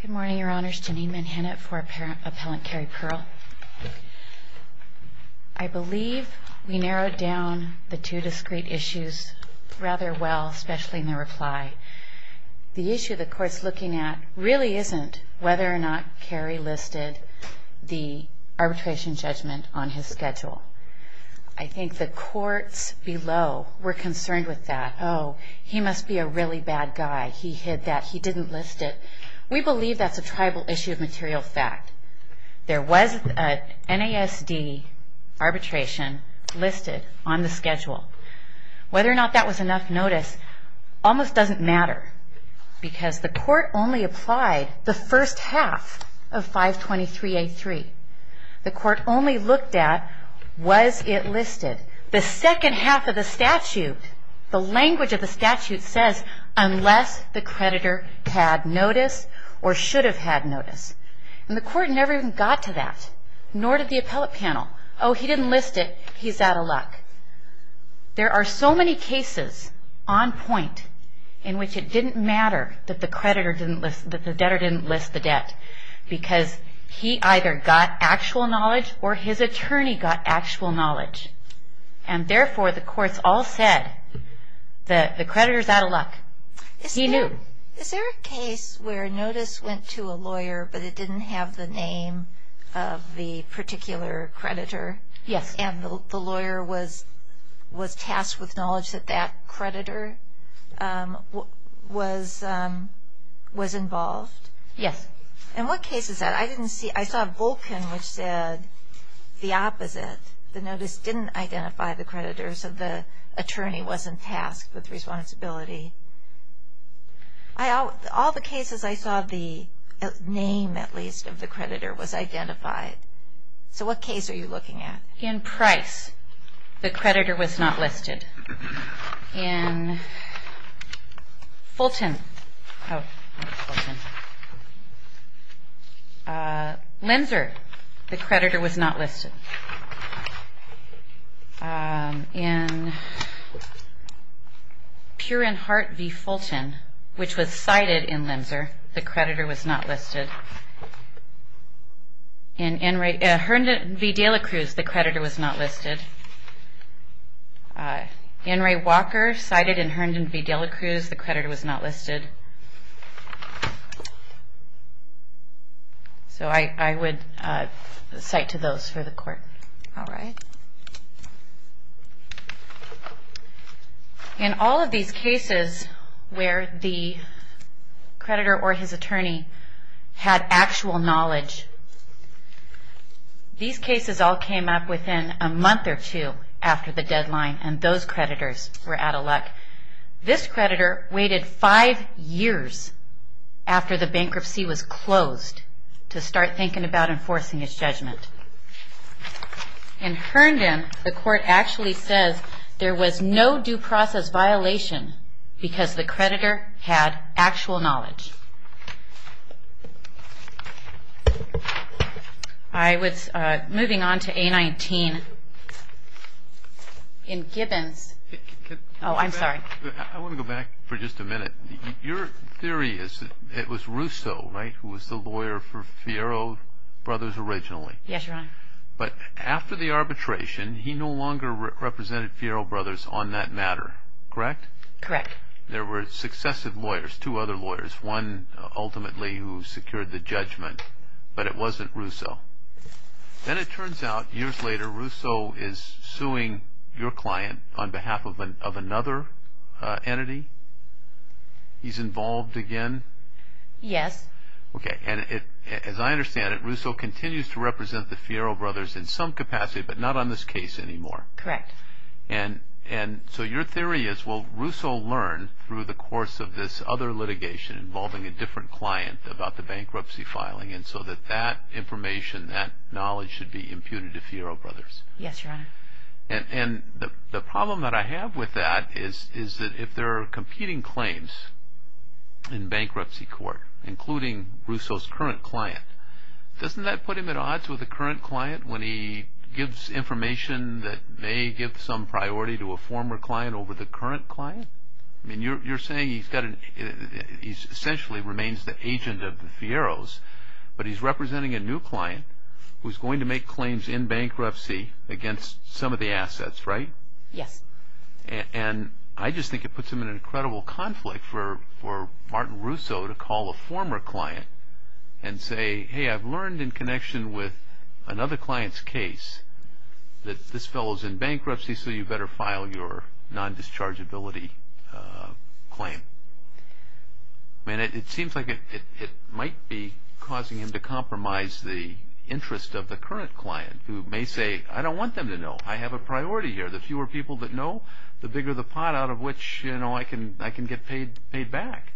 Good morning, Your Honors. Janine Manhattan for Appellant Cery Perle. I believe we narrowed down the two discrete issues rather well, especially in the reply. The issue the Court's looking at really isn't whether or not Cery listed the arbitration judgment on his schedule. I think the Courts below were concerned with that. Oh, he must be a really bad guy. He hid that. He didn't list it. We believe that's a tribal issue of material fact. There was an NASD arbitration listed on the schedule. Whether or not that was enough notice almost doesn't matter, because the Court only applied the first half of 523A3. The Court only looked at was it listed. The second half of the statute, the language of the statute says, unless the creditor had notice or should have had notice. And the Court never even got to that, nor did the appellate panel. Oh, he didn't list it. He's out of luck. There are so many cases on point in which it didn't matter that the debtor didn't list the debt, because he either got actual knowledge or his attorney got actual knowledge. And therefore, the Courts all said the creditor's out of luck. He knew. Is there a case where notice went to a lawyer, but it didn't have the name of the particular creditor? Yes. And the lawyer was tasked with knowledge that that creditor was involved? Yes. And what case is that? I saw Volkin, which said the opposite. The notice didn't identify the creditor, so the attorney wasn't tasked with responsibility. All the cases I saw the name, at least, of the creditor was identified. So what case are you looking at? In Price, the creditor was not listed. In Fulton, Linser, the creditor was not listed. In Purenhart v. Fulton, which was cited in Linser, the creditor was not listed. In Herndon v. Delacruz, the creditor was not listed. In Ray Walker, cited in Herndon v. Delacruz, the creditor was not listed. So I would cite to those for the Court. All right. In all of these cases where the creditor or his attorney had actual knowledge, these cases all came up within a month or two after the deadline, and those creditors were out of luck. This creditor waited five years after the bankruptcy was closed to start thinking about enforcing his judgment. In Herndon, the Court actually says there was no due process violation because the creditor had actual knowledge. All right. Moving on to A-19. In Gibbons. Oh, I'm sorry. I want to go back for just a minute. Your theory is it was Russo, right, who was the lawyer for Fiero Brothers originally? Yes, Your Honor. But after the arbitration, he no longer represented Fiero Brothers on that matter, correct? Correct. There were successive lawyers, two other lawyers, one ultimately who secured the judgment, but it wasn't Russo. Then it turns out years later Russo is suing your client on behalf of another entity. He's involved again? Yes. Okay, and as I understand it, Russo continues to represent the Fiero Brothers in some capacity but not on this case anymore. Correct. And so your theory is, well, Russo learned through the course of this other litigation involving a different client about the bankruptcy filing so that that information, that knowledge should be imputed to Fiero Brothers. Yes, Your Honor. And the problem that I have with that is that if there are competing claims in bankruptcy court, including Russo's current client, doesn't that put him at odds with the current client when he gives information that may give some priority to a former client over the current client? I mean, you're saying he essentially remains the agent of the Fieros, but he's representing a new client who's going to make claims in bankruptcy against some of the assets, right? Yes. And I just think it puts him in an incredible conflict for Martin Russo to call a former client and say, hey, I've learned in connection with another client's case that this fellow's in bankruptcy so you better file your non-dischargeability claim. I mean, it seems like it might be causing him to compromise the interest of the current client who may say, I don't want them to know. I have a priority here. The fewer people that know, the bigger the pot out of which I can get paid back.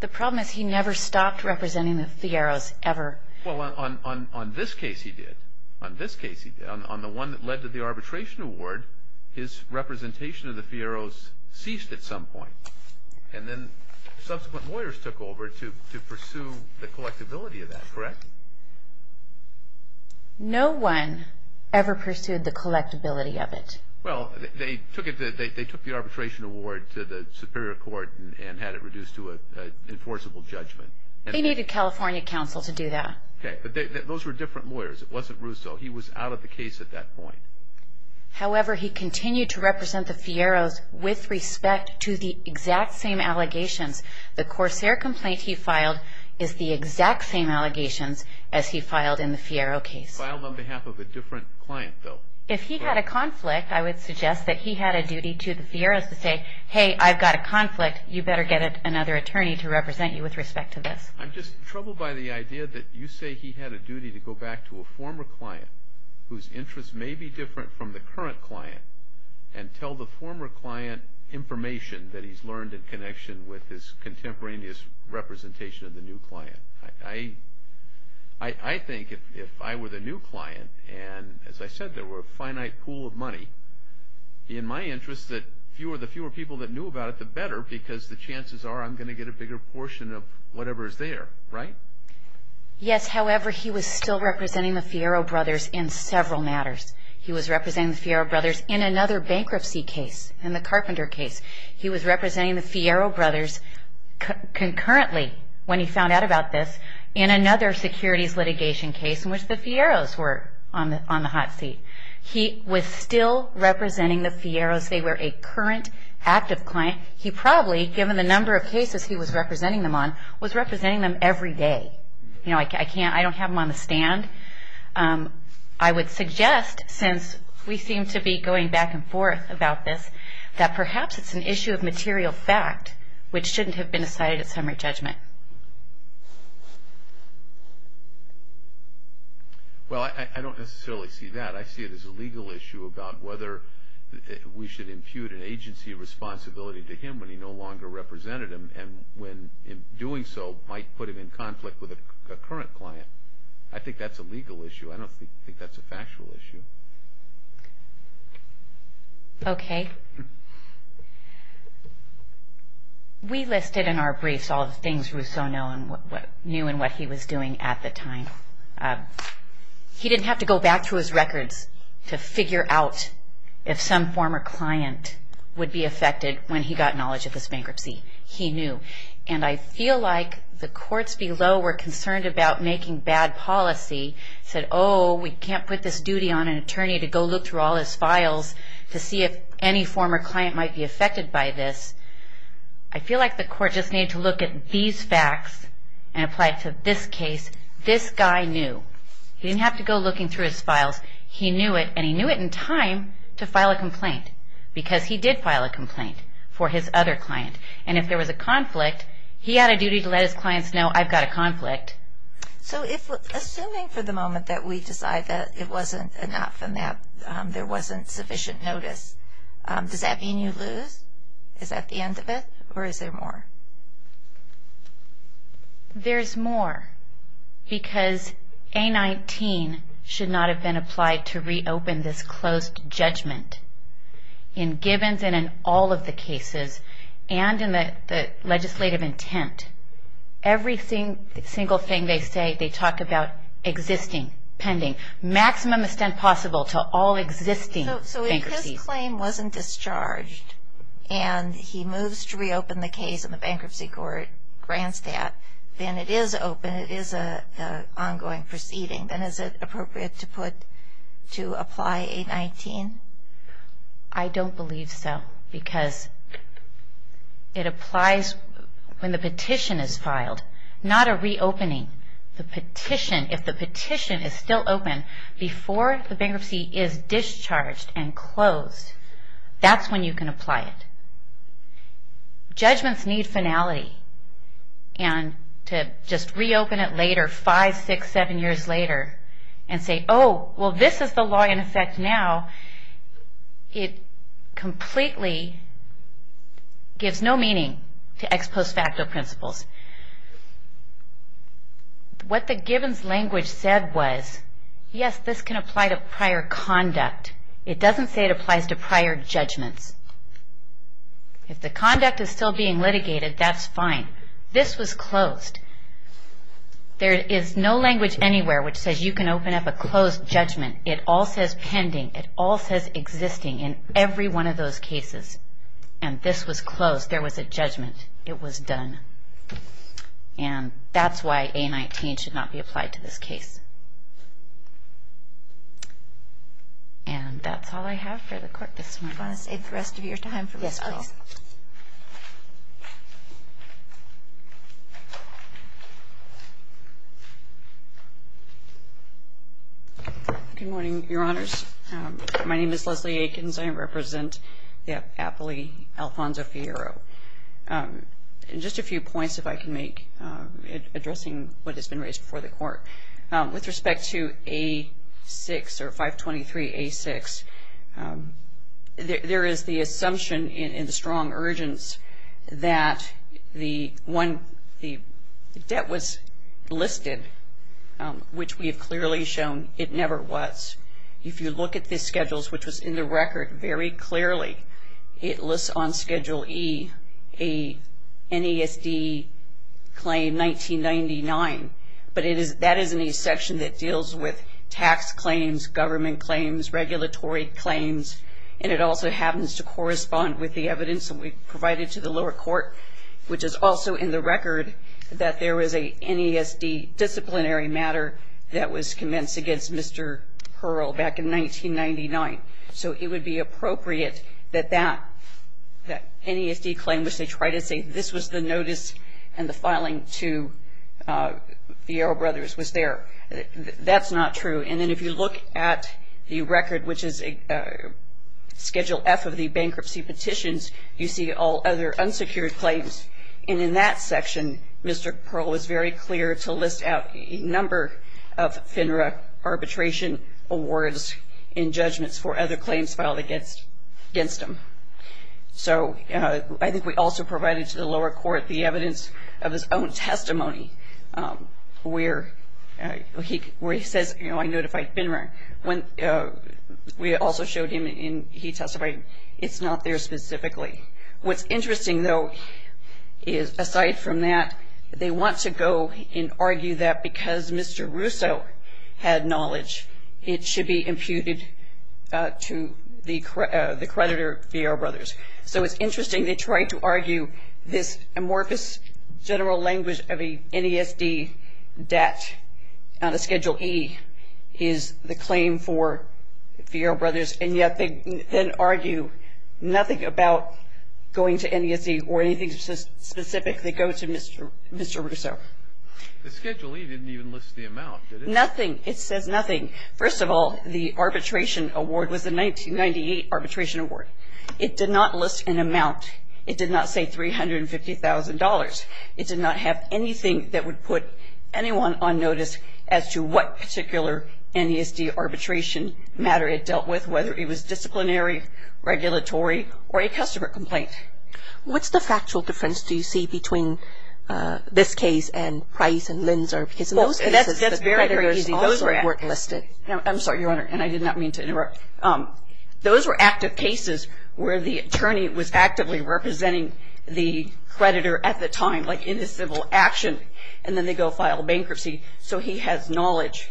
The problem is he never stopped representing the Fieros ever. Well, on this case he did. On this case he did. On the one that led to the arbitration award, his representation of the Fieros ceased at some point. And then subsequent lawyers took over to pursue the collectability of that, correct? No one ever pursued the collectability of it. Well, they took the arbitration award to the superior court and had it reduced to an enforceable judgment. They needed California counsel to do that. Okay. But those were different lawyers. It wasn't Russo. He was out of the case at that point. However, he continued to represent the Fieros with respect to the exact same allegations. The Corsair complaint he filed is the exact same allegations as he filed in the Fiero case. Filed on behalf of a different client, though. If he had a conflict, I would suggest that he had a duty to the Fieros to say, hey, I've got a conflict, you better get another attorney to represent you with respect to this. I'm just troubled by the idea that you say he had a duty to go back to a former client whose interests may be different from the current client and tell the former client information that he's learned in connection with his contemporaneous representation of the new client. I think if I were the new client and, as I said, there were a finite pool of money, in my interest that the fewer people that knew about it, the better, because the chances are I'm going to get a bigger portion of whatever is there. Right? Yes. However, he was still representing the Fiero brothers in several matters. He was representing the Fiero brothers in another bankruptcy case, in the Carpenter case. He was representing the Fiero brothers concurrently when he found out about this in another securities litigation case in which the Fieros were on the hot seat. He was still representing the Fieros. They were a current active client. He probably, given the number of cases he was representing them on, was representing them every day. I don't have them on the stand. I would suggest, since we seem to be going back and forth about this, that perhaps it's an issue of material fact which shouldn't have been decided at summary judgment. Well, I don't necessarily see that. I see it as a legal issue about whether we should impute an agency of responsibility to him when he no longer represented them and, in doing so, might put him in conflict with a current client. I think that's a legal issue. I don't think that's a factual issue. Okay. We listed in our briefs all the things Rousseau knew and what he was doing at the time. He didn't have to go back through his records to figure out if some former client would be affected when he got knowledge of this bankruptcy. He knew. And I feel like the courts below were concerned about making bad policy, said, oh, we can't put this duty on an attorney to go look through all his files to see if any former client might be affected by this. I feel like the court just needed to look at these facts and apply it to this case. This guy knew. He didn't have to go looking through his files. He knew it, and he knew it in time to file a complaint because he did file a complaint for his other client. And if there was a conflict, he had a duty to let his clients know, I've got a conflict. So assuming for the moment that we decide that it wasn't enough and that there wasn't sufficient notice, does that mean you lose? Is that the end of it, or is there more? There's more because A19 should not have been applied to reopen this closed judgment. In Gibbons and in all of the cases, and in the legislative intent, every single thing they say they talk about existing, pending, maximum extent possible to all existing bankruptcies. So if his claim wasn't discharged and he moves to reopen the case in the bankruptcy court, grants that, then it is open, it is an ongoing proceeding, then is it appropriate to apply A19? I don't believe so because it applies. When the petition is filed, not a reopening, the petition, if the petition is still open before the bankruptcy is discharged and closed, that's when you can apply it. Judgments need finality, and to just reopen it later, five, six, seven years later, and say, oh, well, this is the law in effect now, it completely gives no meaning to ex post facto principles. What the Gibbons language said was, yes, this can apply to prior conduct. It doesn't say it applies to prior judgments. If the conduct is still being litigated, that's fine. This was closed. There is no language anywhere which says you can open up a closed judgment. It all says pending. It all says existing in every one of those cases. And this was closed. There was a judgment. It was done. And that's why A19 should not be applied to this case. And that's all I have for the court this morning. Do you want to save the rest of your time for this call? Yes, please. Good morning, Your Honors. My name is Leslie Aikens. I represent the appellee, Alfonso Figueroa. Just a few points, if I can make, addressing what has been raised before the court. With respect to A6 or 523A6, there is the assumption in the strong urgence that the debt was listed, which we have clearly shown it never was. If you look at the schedules, which was in the record very clearly, it lists on Schedule E a NESD claim 1999. But that is a section that deals with tax claims, government claims, regulatory claims, and it also happens to correspond with the evidence that we provided to the lower court, which is also in the record that there was a NESD disciplinary matter that was commenced against Mr. Pearl back in 1999. So it would be appropriate that that NESD claim, which they try to say this was the notice and the filing to Figueroa Brothers was there. That's not true. And then if you look at the record, which is Schedule F of the bankruptcy petitions, you see all other unsecured claims. And in that section, Mr. Pearl was very clear to list out a number of FINRA arbitration awards in judgments for other claims filed against him. So I think we also provided to the lower court the evidence of his own testimony where he says, you know, I notified FINRA. We also showed him and he testified it's not there specifically. What's interesting, though, is aside from that, they want to go and argue that because Mr. Russo had knowledge, it should be imputed to the creditor, Figueroa Brothers. So it's interesting they tried to argue this amorphous general language of an NESD debt on a Schedule E is the claim for Figueroa Brothers, and yet they then argue nothing about going to NESD or anything specific that goes to Mr. Russo. The Schedule E didn't even list the amount, did it? Nothing. It says nothing. First of all, the arbitration award was the 1998 arbitration award. It did not list an amount. It did not say $350,000. It did not have anything that would put anyone on notice as to what particular NESD arbitration matter it dealt with, whether it was disciplinary, regulatory, or a customer complaint. What's the factual difference do you see between this case and Price and Linzer? That's very, very easy. I'm sorry, Your Honor, and I did not mean to interrupt. Those were active cases where the attorney was actively representing the creditor at the time, like in a civil action, and then they go file bankruptcy, so he has knowledge.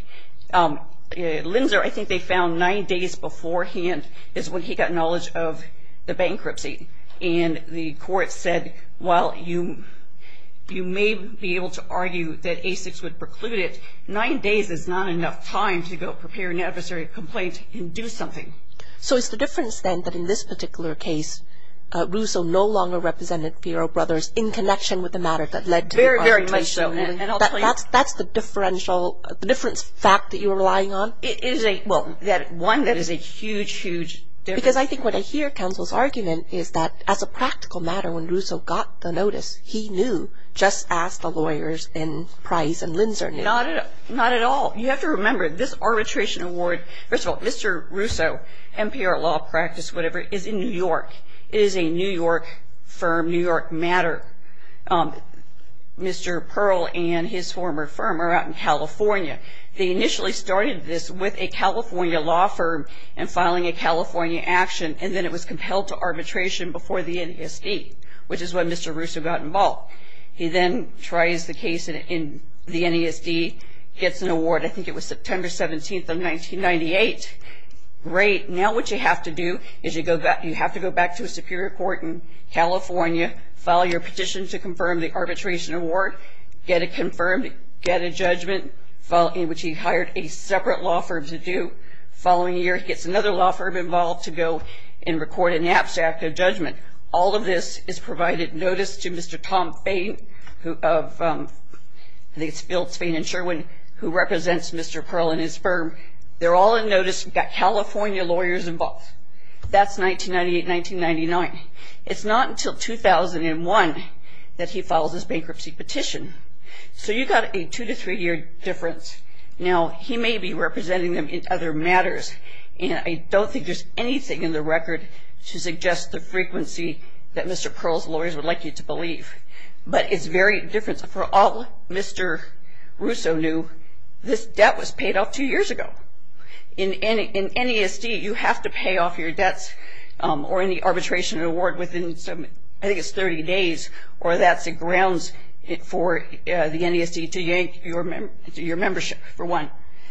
Linzer, I think they found nine days beforehand is when he got knowledge of the bankruptcy, and the court said, well, you may be able to argue that ASICs would preclude it. Nine days is not enough time to go prepare an adversary complaint and do something. So it's the difference, then, that in this particular case, Russo no longer represented Fiero Brothers in connection with the matter that led to the arbitration? Very, very much so. That's the differential, the different fact that you're relying on? It is a, well, one that is a huge, huge difference. Because I think what I hear counsel's argument is that as a practical matter, when Russo got the notice, he knew just as the lawyers in Price and Linzer knew. Not at all. You have to remember, this arbitration award, first of all, Mr. Russo, MPR law practice, whatever, is in New York. It is a New York firm, New York matter. They initially started this with a California law firm and filing a California action, and then it was compelled to arbitration before the NESD, which is when Mr. Russo got involved. He then tries the case in the NESD, gets an award. I think it was September 17th of 1998. Great. Now what you have to do is you have to go back to a superior court in California, file your petition to confirm the arbitration award, get it confirmed, get a judgment, in which he hired a separate law firm to do. The following year, he gets another law firm involved to go and record an abstract judgment. All of this is provided notice to Mr. Tom Fain of, I think it's Fain & Sherwin, who represents Mr. Pearl and his firm. They're all in notice. We've got California lawyers involved. That's 1998-1999. It's not until 2001 that he files his bankruptcy petition. So you've got a two- to three-year difference. Now, he may be representing them in other matters, and I don't think there's anything in the record to suggest the frequency that Mr. Pearl's lawyers would like you to believe. But it's very different. For all Mr. Russo knew, this debt was paid off two years ago. In NESD, you have to pay off your debts or any arbitration award within, I think it's 30 days, or that's the grounds for the NESD to yank your membership for one.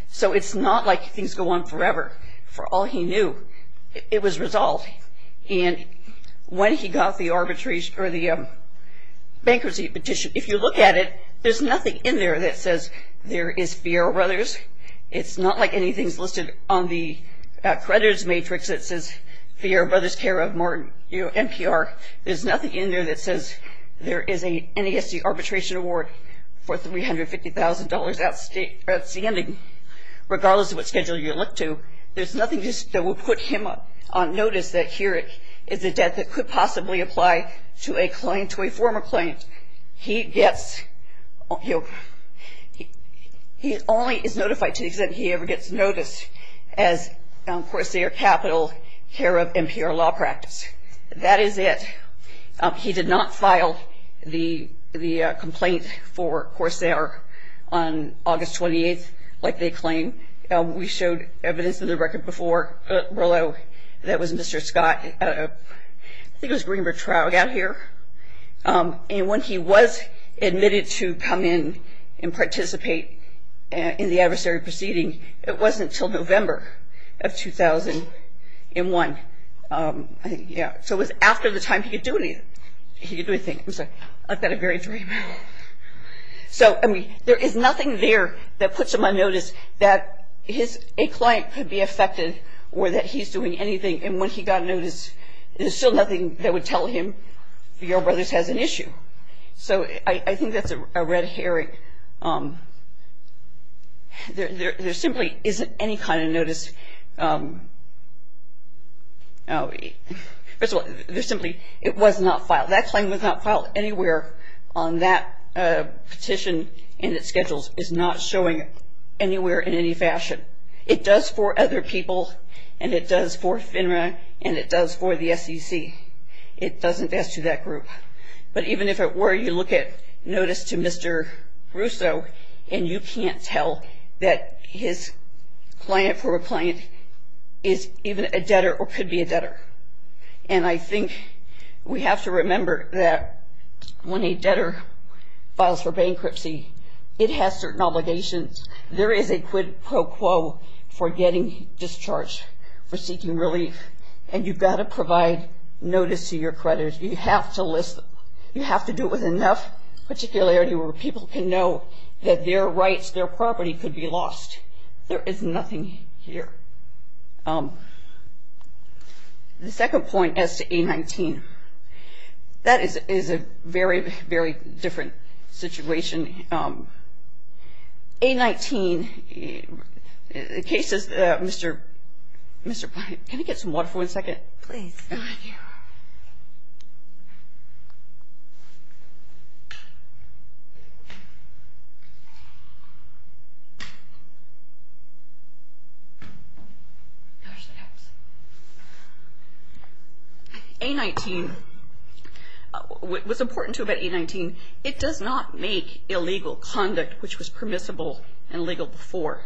So it's not like things go on forever. For all he knew, it was resolved. And when he got the bankruptcy petition, if you look at it, there's nothing in there that says there is Fierro Brothers. It's not like anything's listed on the creditors' matrix that says Fierro Brothers care of MPR. There's nothing in there that says there is a NESD arbitration award for $350,000 outstanding. Regardless of what schedule you look to, there's nothing that will put him on notice that here is a debt that could possibly apply to a client, to a former client. He only is notified to the extent he ever gets noticed as Corsair Capital care of MPR law practice. That is it. He did not file the complaint for Corsair on August 28th like they claim. We showed evidence in the record before that was Mr. Scott, I think it was Greenberg Traug, out here. And when he was admitted to come in and participate in the adversary proceeding, it wasn't until November of 2001. So it was after the time he could do anything. I've got a very dry mouth. So there is nothing there that puts him on notice that a client could be affected or that he's doing anything. And when he got noticed, there's still nothing that would tell him the Yarro Brothers has an issue. So I think that's a red herring. There simply isn't any kind of notice. First of all, there simply, it was not filed. That claim was not filed anywhere on that petition and its schedules. It's not showing anywhere in any fashion. It does for other people and it does for FINRA and it does for the SEC. It doesn't ask you that group. But even if it were, you look at notice to Mr. Russo and you can't tell that his client for a client is even a debtor or could be a debtor. And I think we have to remember that when a debtor files for bankruptcy, it has certain obligations. There is a quid pro quo for getting discharged, for seeking relief, and you've got to provide notice to your creditors. You have to list them. You have to do it with enough particularity where people can know that their rights, their property could be lost. There is nothing here. The second point as to A19, that is a very, very different situation. A19, in cases, Mr. Blank, can I get some water for one second? Please. Thank you. A19, what's important about A19, it does not make illegal conduct, which was permissible and legal before,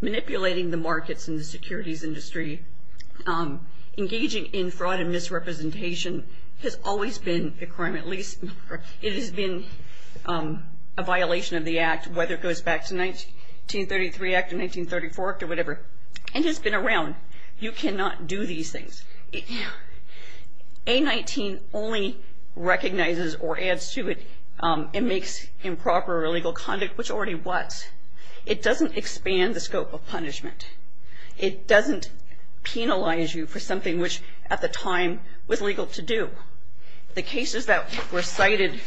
manipulating the markets and the securities industry, engaging in fraud and misrepresentation has always been a crime, at least it has been a violation of the Act, whether it goes back to 1933 Act or 1934 Act or whatever. And it's been around. You cannot do these things. A19 only recognizes or adds to it and makes improper or illegal conduct, which already was. It doesn't expand the scope of punishment. It doesn't penalize you for something which at the time was legal to do. The cases that were cited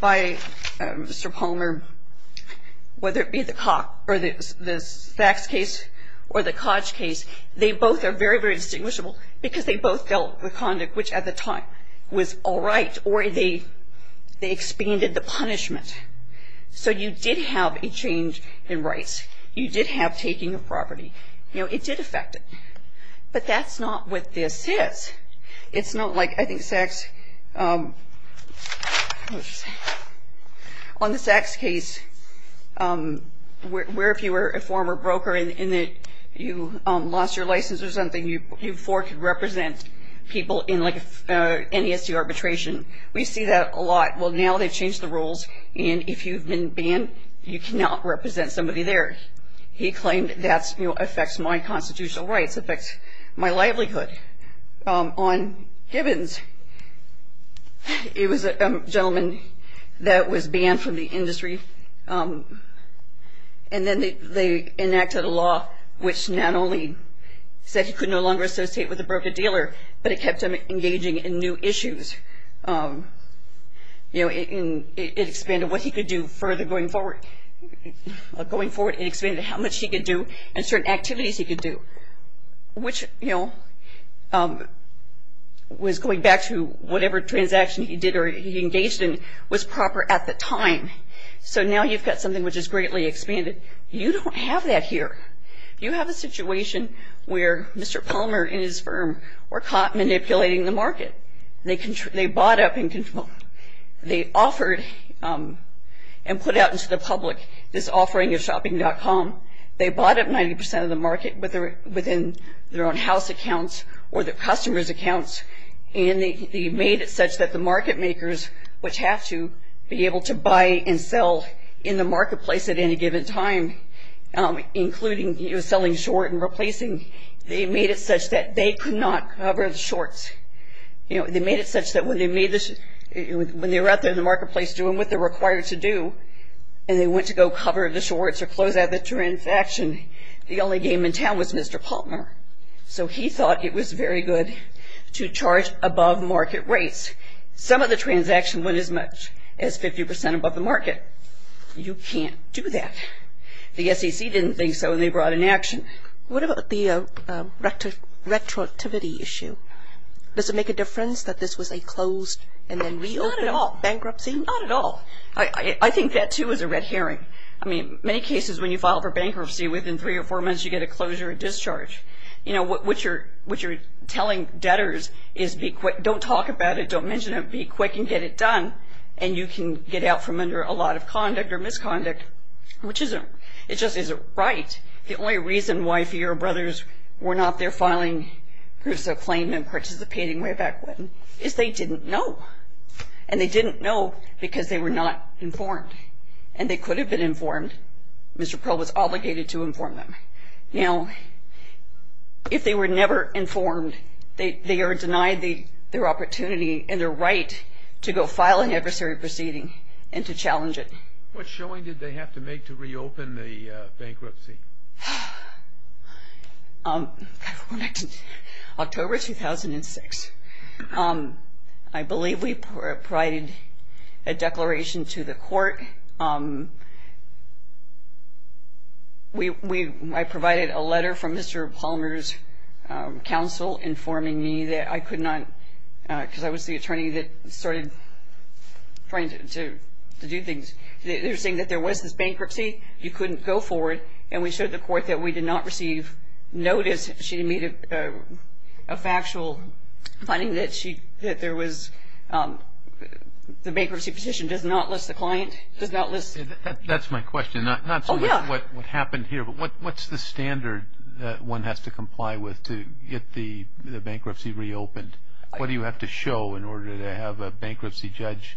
by Mr. Palmer, whether it be the Cox or the Sachs case or the Koch case, they both are very, very distinguishable because they both dealt with conduct which at the time was all right, or they expanded the punishment. So you did have a change in rights. You did have taking of property. You know, it did affect it. But that's not what this is. It's not like, I think, Sachs, on the Sachs case, where if you were a former broker and you lost your license or something, you four could represent people in, like, NESC arbitration. We see that a lot. Well, now they've changed the rules, and if you've been banned, you cannot represent somebody there. He claimed that affects my constitutional rights, affects my livelihood. On Gibbons, it was a gentleman that was banned from the industry, and then they enacted a law which not only said he could no longer associate with a broker-dealer, but it kept him engaging in new issues. You know, it expanded what he could do further going forward. Going forward, it expanded how much he could do and certain activities he could do, which, you know, was going back to whatever transaction he did or he engaged in was proper at the time. So now you've got something which is greatly expanded. You don't have that here. You have a situation where Mr. Palmer and his firm were caught manipulating the market. They bought up and they offered and put out into the public this offering of shopping.com. They bought up 90% of the market within their own house accounts or their customers' accounts, and they made it such that the market makers, which have to be able to buy and sell in the marketplace at any given time, including selling short and replacing, they made it such that they could not cover the shorts. You know, they made it such that when they were out there in the marketplace doing what they're required to do and they went to go cover the shorts or close out the transaction, the only game in town was Mr. Palmer. So he thought it was very good to charge above market rates. Some of the transactions went as much as 50% above the market. You can't do that. The SEC didn't think so, and they brought an action. What about the retroactivity issue? Does it make a difference that this was a closed and then reopened bankruptcy? Not at all. I think that, too, is a red herring. I mean, many cases when you file for bankruptcy, within three or four months you get a closure and discharge. You know, what you're telling debtors is don't talk about it, don't mention it, be quick and get it done, and you can get out from under a lot of conduct or misconduct, which isn't right. The only reason why four-year-old brothers were not there filing groups of claim and participating way back when is they didn't know. And they didn't know because they were not informed, and they could have been informed. Mr. Pearl was obligated to inform them. Now, if they were never informed, they are denied their opportunity and their right to go file an adversary proceeding and to challenge it. What showing did they have to make to reopen the bankruptcy? October 2006. I provided a letter from Mr. Palmer's counsel informing me that I could not, because I was the attorney that started trying to do things. They were saying that there was this bankruptcy, you couldn't go forward, and we showed the court that we did not receive notice. She didn't meet a factual finding that there was the bankruptcy petition does not list the client. That's my question, not what happened here, but what's the standard that one has to comply with to get the bankruptcy reopened? What do you have to show in order to have a bankruptcy judge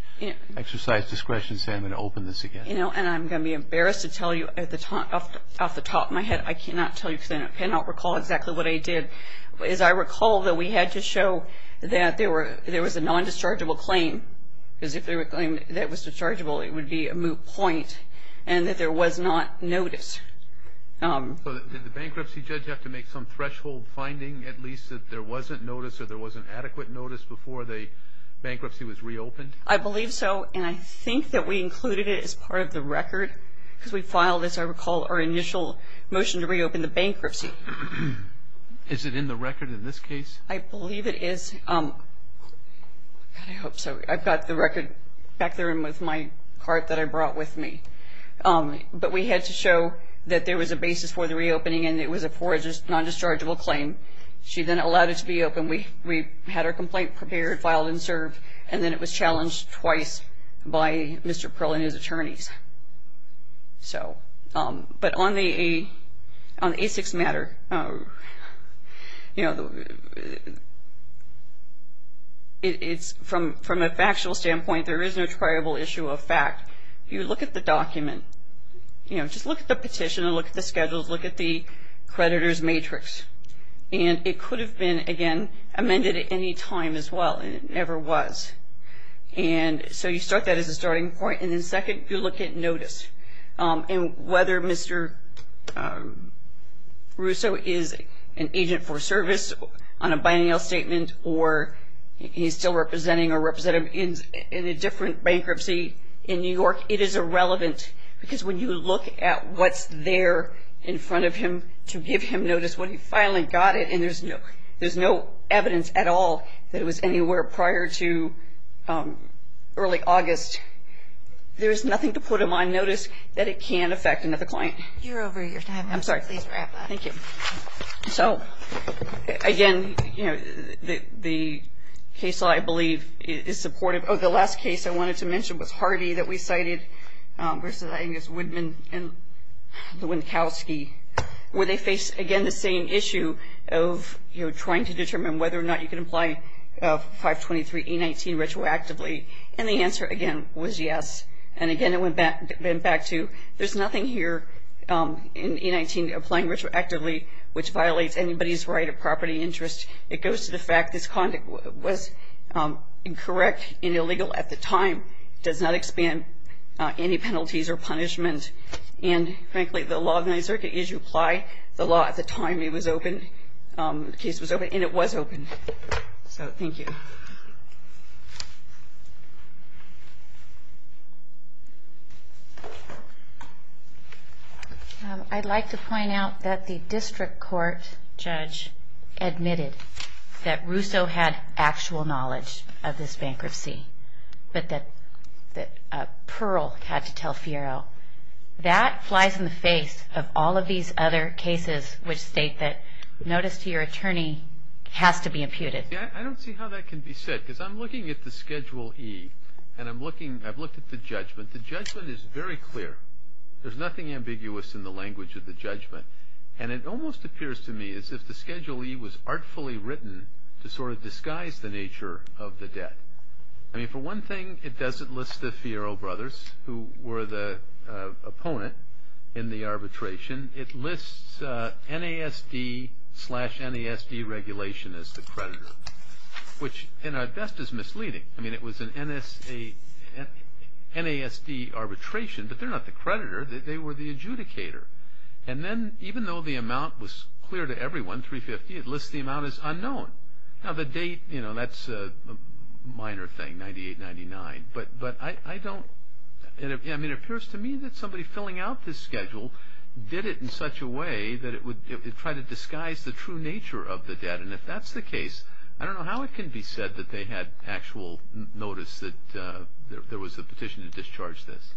exercise discretion and say I'm going to open this again? And I'm going to be embarrassed to tell you off the top of my head, but I cannot tell you because I cannot recall exactly what I did. As I recall, though, we had to show that there was a non-dischargeable claim, because if there was a claim that was dischargeable, it would be a moot point, and that there was not notice. Did the bankruptcy judge have to make some threshold finding, at least that there wasn't notice or there wasn't adequate notice before the bankruptcy was reopened? I believe so, and I think that we included it as part of the record. Because we filed, as I recall, our initial motion to reopen the bankruptcy. Is it in the record in this case? I believe it is. I hope so. I've got the record back there with my cart that I brought with me. But we had to show that there was a basis for the reopening and it was a non-dischargeable claim. She then allowed it to be opened. We had our complaint prepared, filed, and served, and then it was challenged twice by Mr. Pearl and his attorneys. But on the ASICS matter, from a factual standpoint, there is no triable issue of fact. If you look at the document, just look at the petition and look at the schedules, look at the creditor's matrix, and it could have been, again, amended at any time as well, and it never was. And so you start that as a starting point, and then second, you look at notice. And whether Mr. Russo is an agent for service on a biannual statement or he's still representing a representative in a different bankruptcy in New York, it is irrelevant because when you look at what's there in front of him to give him notice when he finally got it and there's no evidence at all that it was anywhere prior to early August, there is nothing to put him on notice that it can affect another client. You're over your time. I'm sorry. Please wrap up. Thank you. So, again, the case law, I believe, is supportive. Oh, the last case I wanted to mention was Hardy that we cited versus Angus Woodman and Lewinkowski, where they face, again, the same issue of trying to determine whether or not you can apply 523E19 retroactively, and the answer, again, was yes. And, again, it went back to there's nothing here in E19 applying retroactively which violates anybody's right of property interest. It goes to the fact this conduct was incorrect and illegal at the time, does not expand any penalties or punishment. And, frankly, the law of the Ninth Circuit is you apply the law at the time it was opened, the case was opened, and it was opened. So, thank you. I'd like to point out that the district court judge admitted that Russo had actual knowledge of this bankruptcy, but that Pearl had to tell Fiero. That flies in the face of all of these other cases which state that notice to your attorney has to be imputed. I don't see how that can be said, because I'm looking at the Schedule E, and I've looked at the judgment. The judgment is very clear. There's nothing ambiguous in the language of the judgment, and it almost appears to me as if the Schedule E was artfully written to sort of disguise the nature of the debt. I mean, for one thing, it doesn't list the Fiero brothers who were the opponent in the arbitration. It lists NASD slash NASD regulation as the creditor, which, at best, is misleading. I mean, it was an NASD arbitration, but they're not the creditor. They were the adjudicator. And then, even though the amount was clear to everyone, 350, it lists the amount as unknown. Now, the date, you know, that's a minor thing, 98-99, but I don't – I mean, it appears to me that somebody filling out this schedule did it in such a way that it would try to disguise the true nature of the debt, and if that's the case, I don't know how it can be said that they had actual notice that there was a petition to discharge this.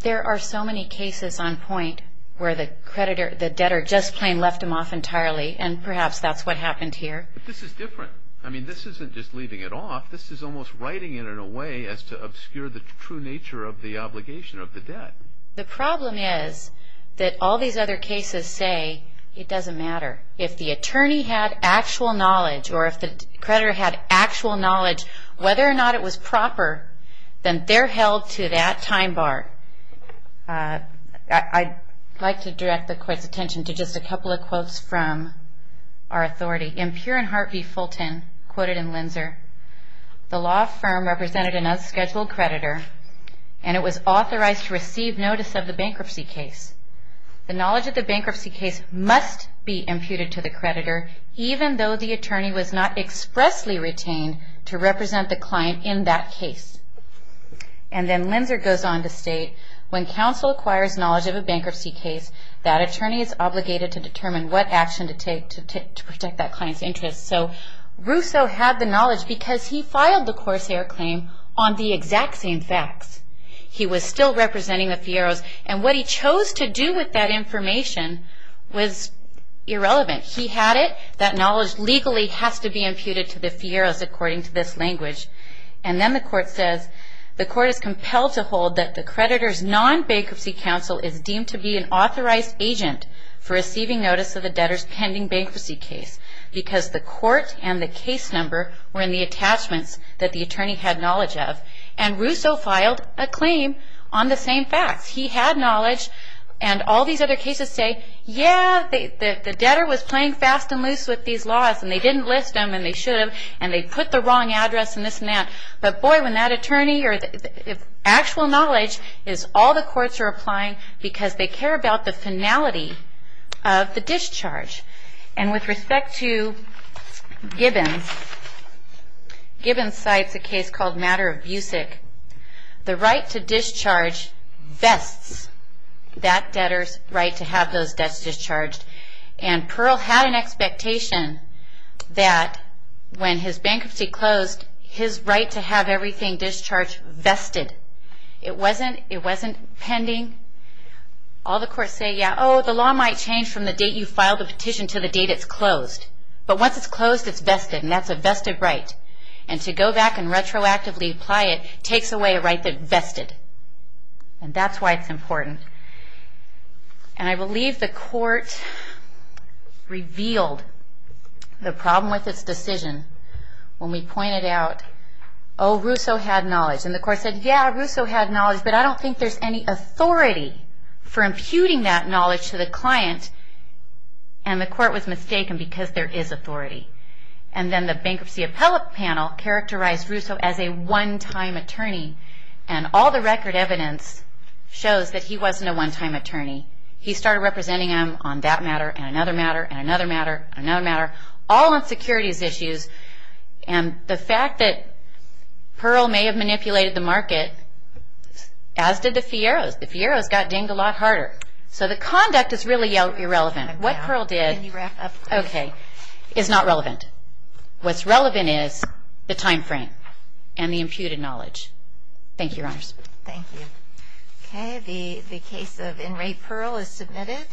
There are so many cases on point where the creditor, the debtor, just plain left them off entirely, and perhaps that's what happened here. But this is different. I mean, this isn't just leaving it off. This is almost writing it in a way as to obscure the true nature of the obligation of the debt. The problem is that all these other cases say it doesn't matter. If the attorney had actual knowledge or if the creditor had actual knowledge, whether or not it was proper, then they're held to that time bar. I'd like to direct the Court's attention to just a couple of quotes from our authority. Imperian Hart v. Fulton, quoted in Linzer, the law firm represented an unscheduled creditor, and it was authorized to receive notice of the bankruptcy case. The knowledge of the bankruptcy case must be imputed to the creditor, even though the attorney was not expressly retained to represent the client in that case. And then Linzer goes on to state, when counsel acquires knowledge of a bankruptcy case, that attorney is obligated to determine what action to take to protect that client's interests. So Russo had the knowledge because he filed the Corsair claim on the exact same facts. He was still representing the Fierros, and what he chose to do with that information was irrelevant. He had it, that knowledge legally has to be imputed to the Fierros according to this language. And then the Court says, the Court is compelled to hold that the creditor's non-bankruptcy counsel is deemed to be an authorized agent for receiving notice of the debtor's pending bankruptcy case because the Court and the case number were in the attachments that the attorney had knowledge of. And Russo filed a claim on the same facts. He had knowledge, and all these other cases say, yeah, the debtor was playing fast and loose with these laws, and they didn't list them, and they should have, and they put the wrong address, and this and that. But boy, when that attorney or actual knowledge is all the courts are applying because they care about the finality of the discharge. And with respect to Gibbons, Gibbons cites a case called Matter of Busick. The right to discharge vests that debtor's right to have those debts discharged. And Pearl had an expectation that when his bankruptcy closed, his right to have everything discharged vested. It wasn't pending. All the courts say, yeah, oh, the law might change from the date you filed the petition to the date it's closed. But once it's closed, it's vested, and that's a vested right. And to go back and retroactively apply it takes away a right that's vested. And that's why it's important. And I believe the court revealed the problem with its decision when we pointed out, oh, Russo had knowledge. And the court said, yeah, Russo had knowledge, but I don't think there's any authority for imputing that knowledge to the client. And the court was mistaken because there is authority. And then the bankruptcy appellate panel characterized Russo as a one-time attorney. And all the record evidence shows that he wasn't a one-time attorney. He started representing him on that matter and another matter and another matter and another matter, all on securities issues. And the fact that Pearl may have manipulated the market, as did the Fierros. The Fierros got dinged a lot harder. So the conduct is really irrelevant. What Pearl did is not relevant. What's relevant is the time frame and the imputed knowledge. Thank you, Your Honors. Thank you. Okay. The case of Inmate Pearl is submitted.